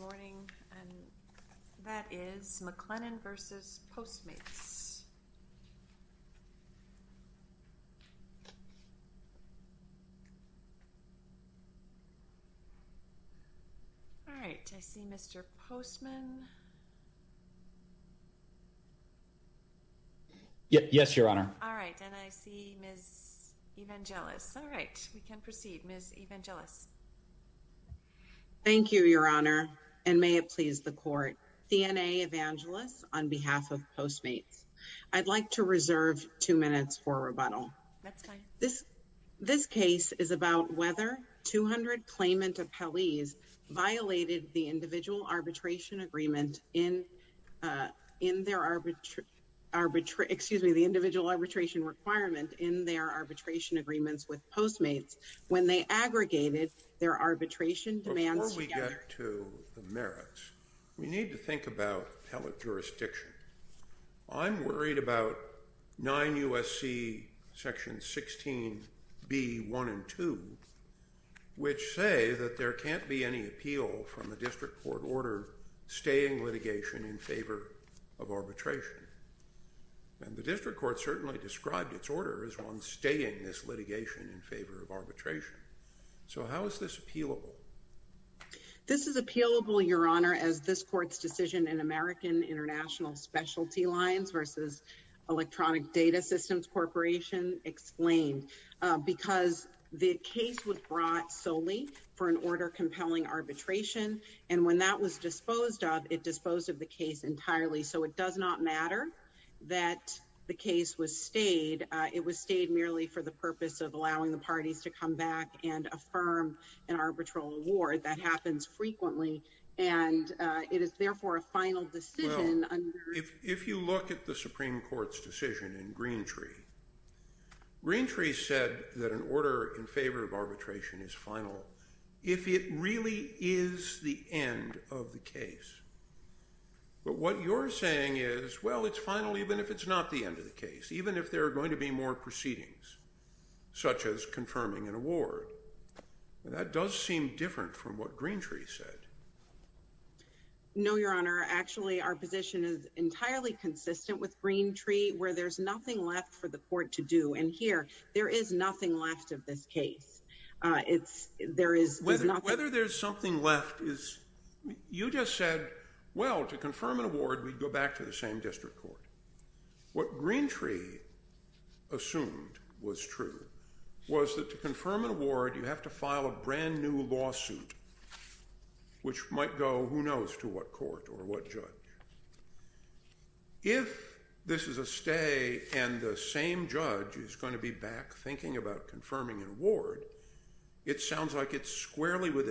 All right, I see Mr. Postman. Yes, Your Honor. All right, and I see Ms. Evangelos. All right, we can proceed. Ms. Evangelos. Thank you, Your Honor, and may it please the court. D.N.A. Evangelos on behalf of Postmates. I'd like to reserve two minutes for rebuttal. That's fine. This case is about whether 200 claimant appellees violated the individual arbitration requirement in their arbitration agreements with Postmates when they aggregated their arbitration demands together. Before we get to the merits, we need to think about appellate jurisdiction. I'm worried about 9 U.S.C. section 16b1 and 2, which say that there can't be any appeal from the district court order staying litigation in favor of arbitration. And the district court certainly described its order as one staying this litigation in favor of arbitration. So how is this appealable? This is appealable, Your Honor, as this court's decision in American International Specialty Lines versus Electronic Data Systems Corporation explained, because the case was brought solely for an order compelling arbitration. And when that was disposed of, disposed of the case entirely. So it does not matter that the case was stayed. It was stayed merely for the purpose of allowing the parties to come back and affirm an arbitral award. That happens frequently. And it is therefore a final decision. If you look at the Supreme Court's decision in Greentree, Greentree said that an order in favor of arbitration is final. If it really is the end of the case. But what you're saying is, well, it's final even if it's not the end of the case, even if there are going to be more proceedings such as confirming an award. That does seem different from what Greentree said. No, Your Honor. Actually, our position is entirely consistent with Greentree, where there's nothing left for the court to do. And here, there is nothing left of this case. Whether there's something left is, you just said, well, to confirm an award, we'd go back to the same district court. What Greentree assumed was true was that to confirm an award, you have to file a brand new lawsuit, which might go, who knows, to what court or what judge. If this is a stay and the same judge is going to be back thinking about confirming an award, it sounds like it's squarely within the law.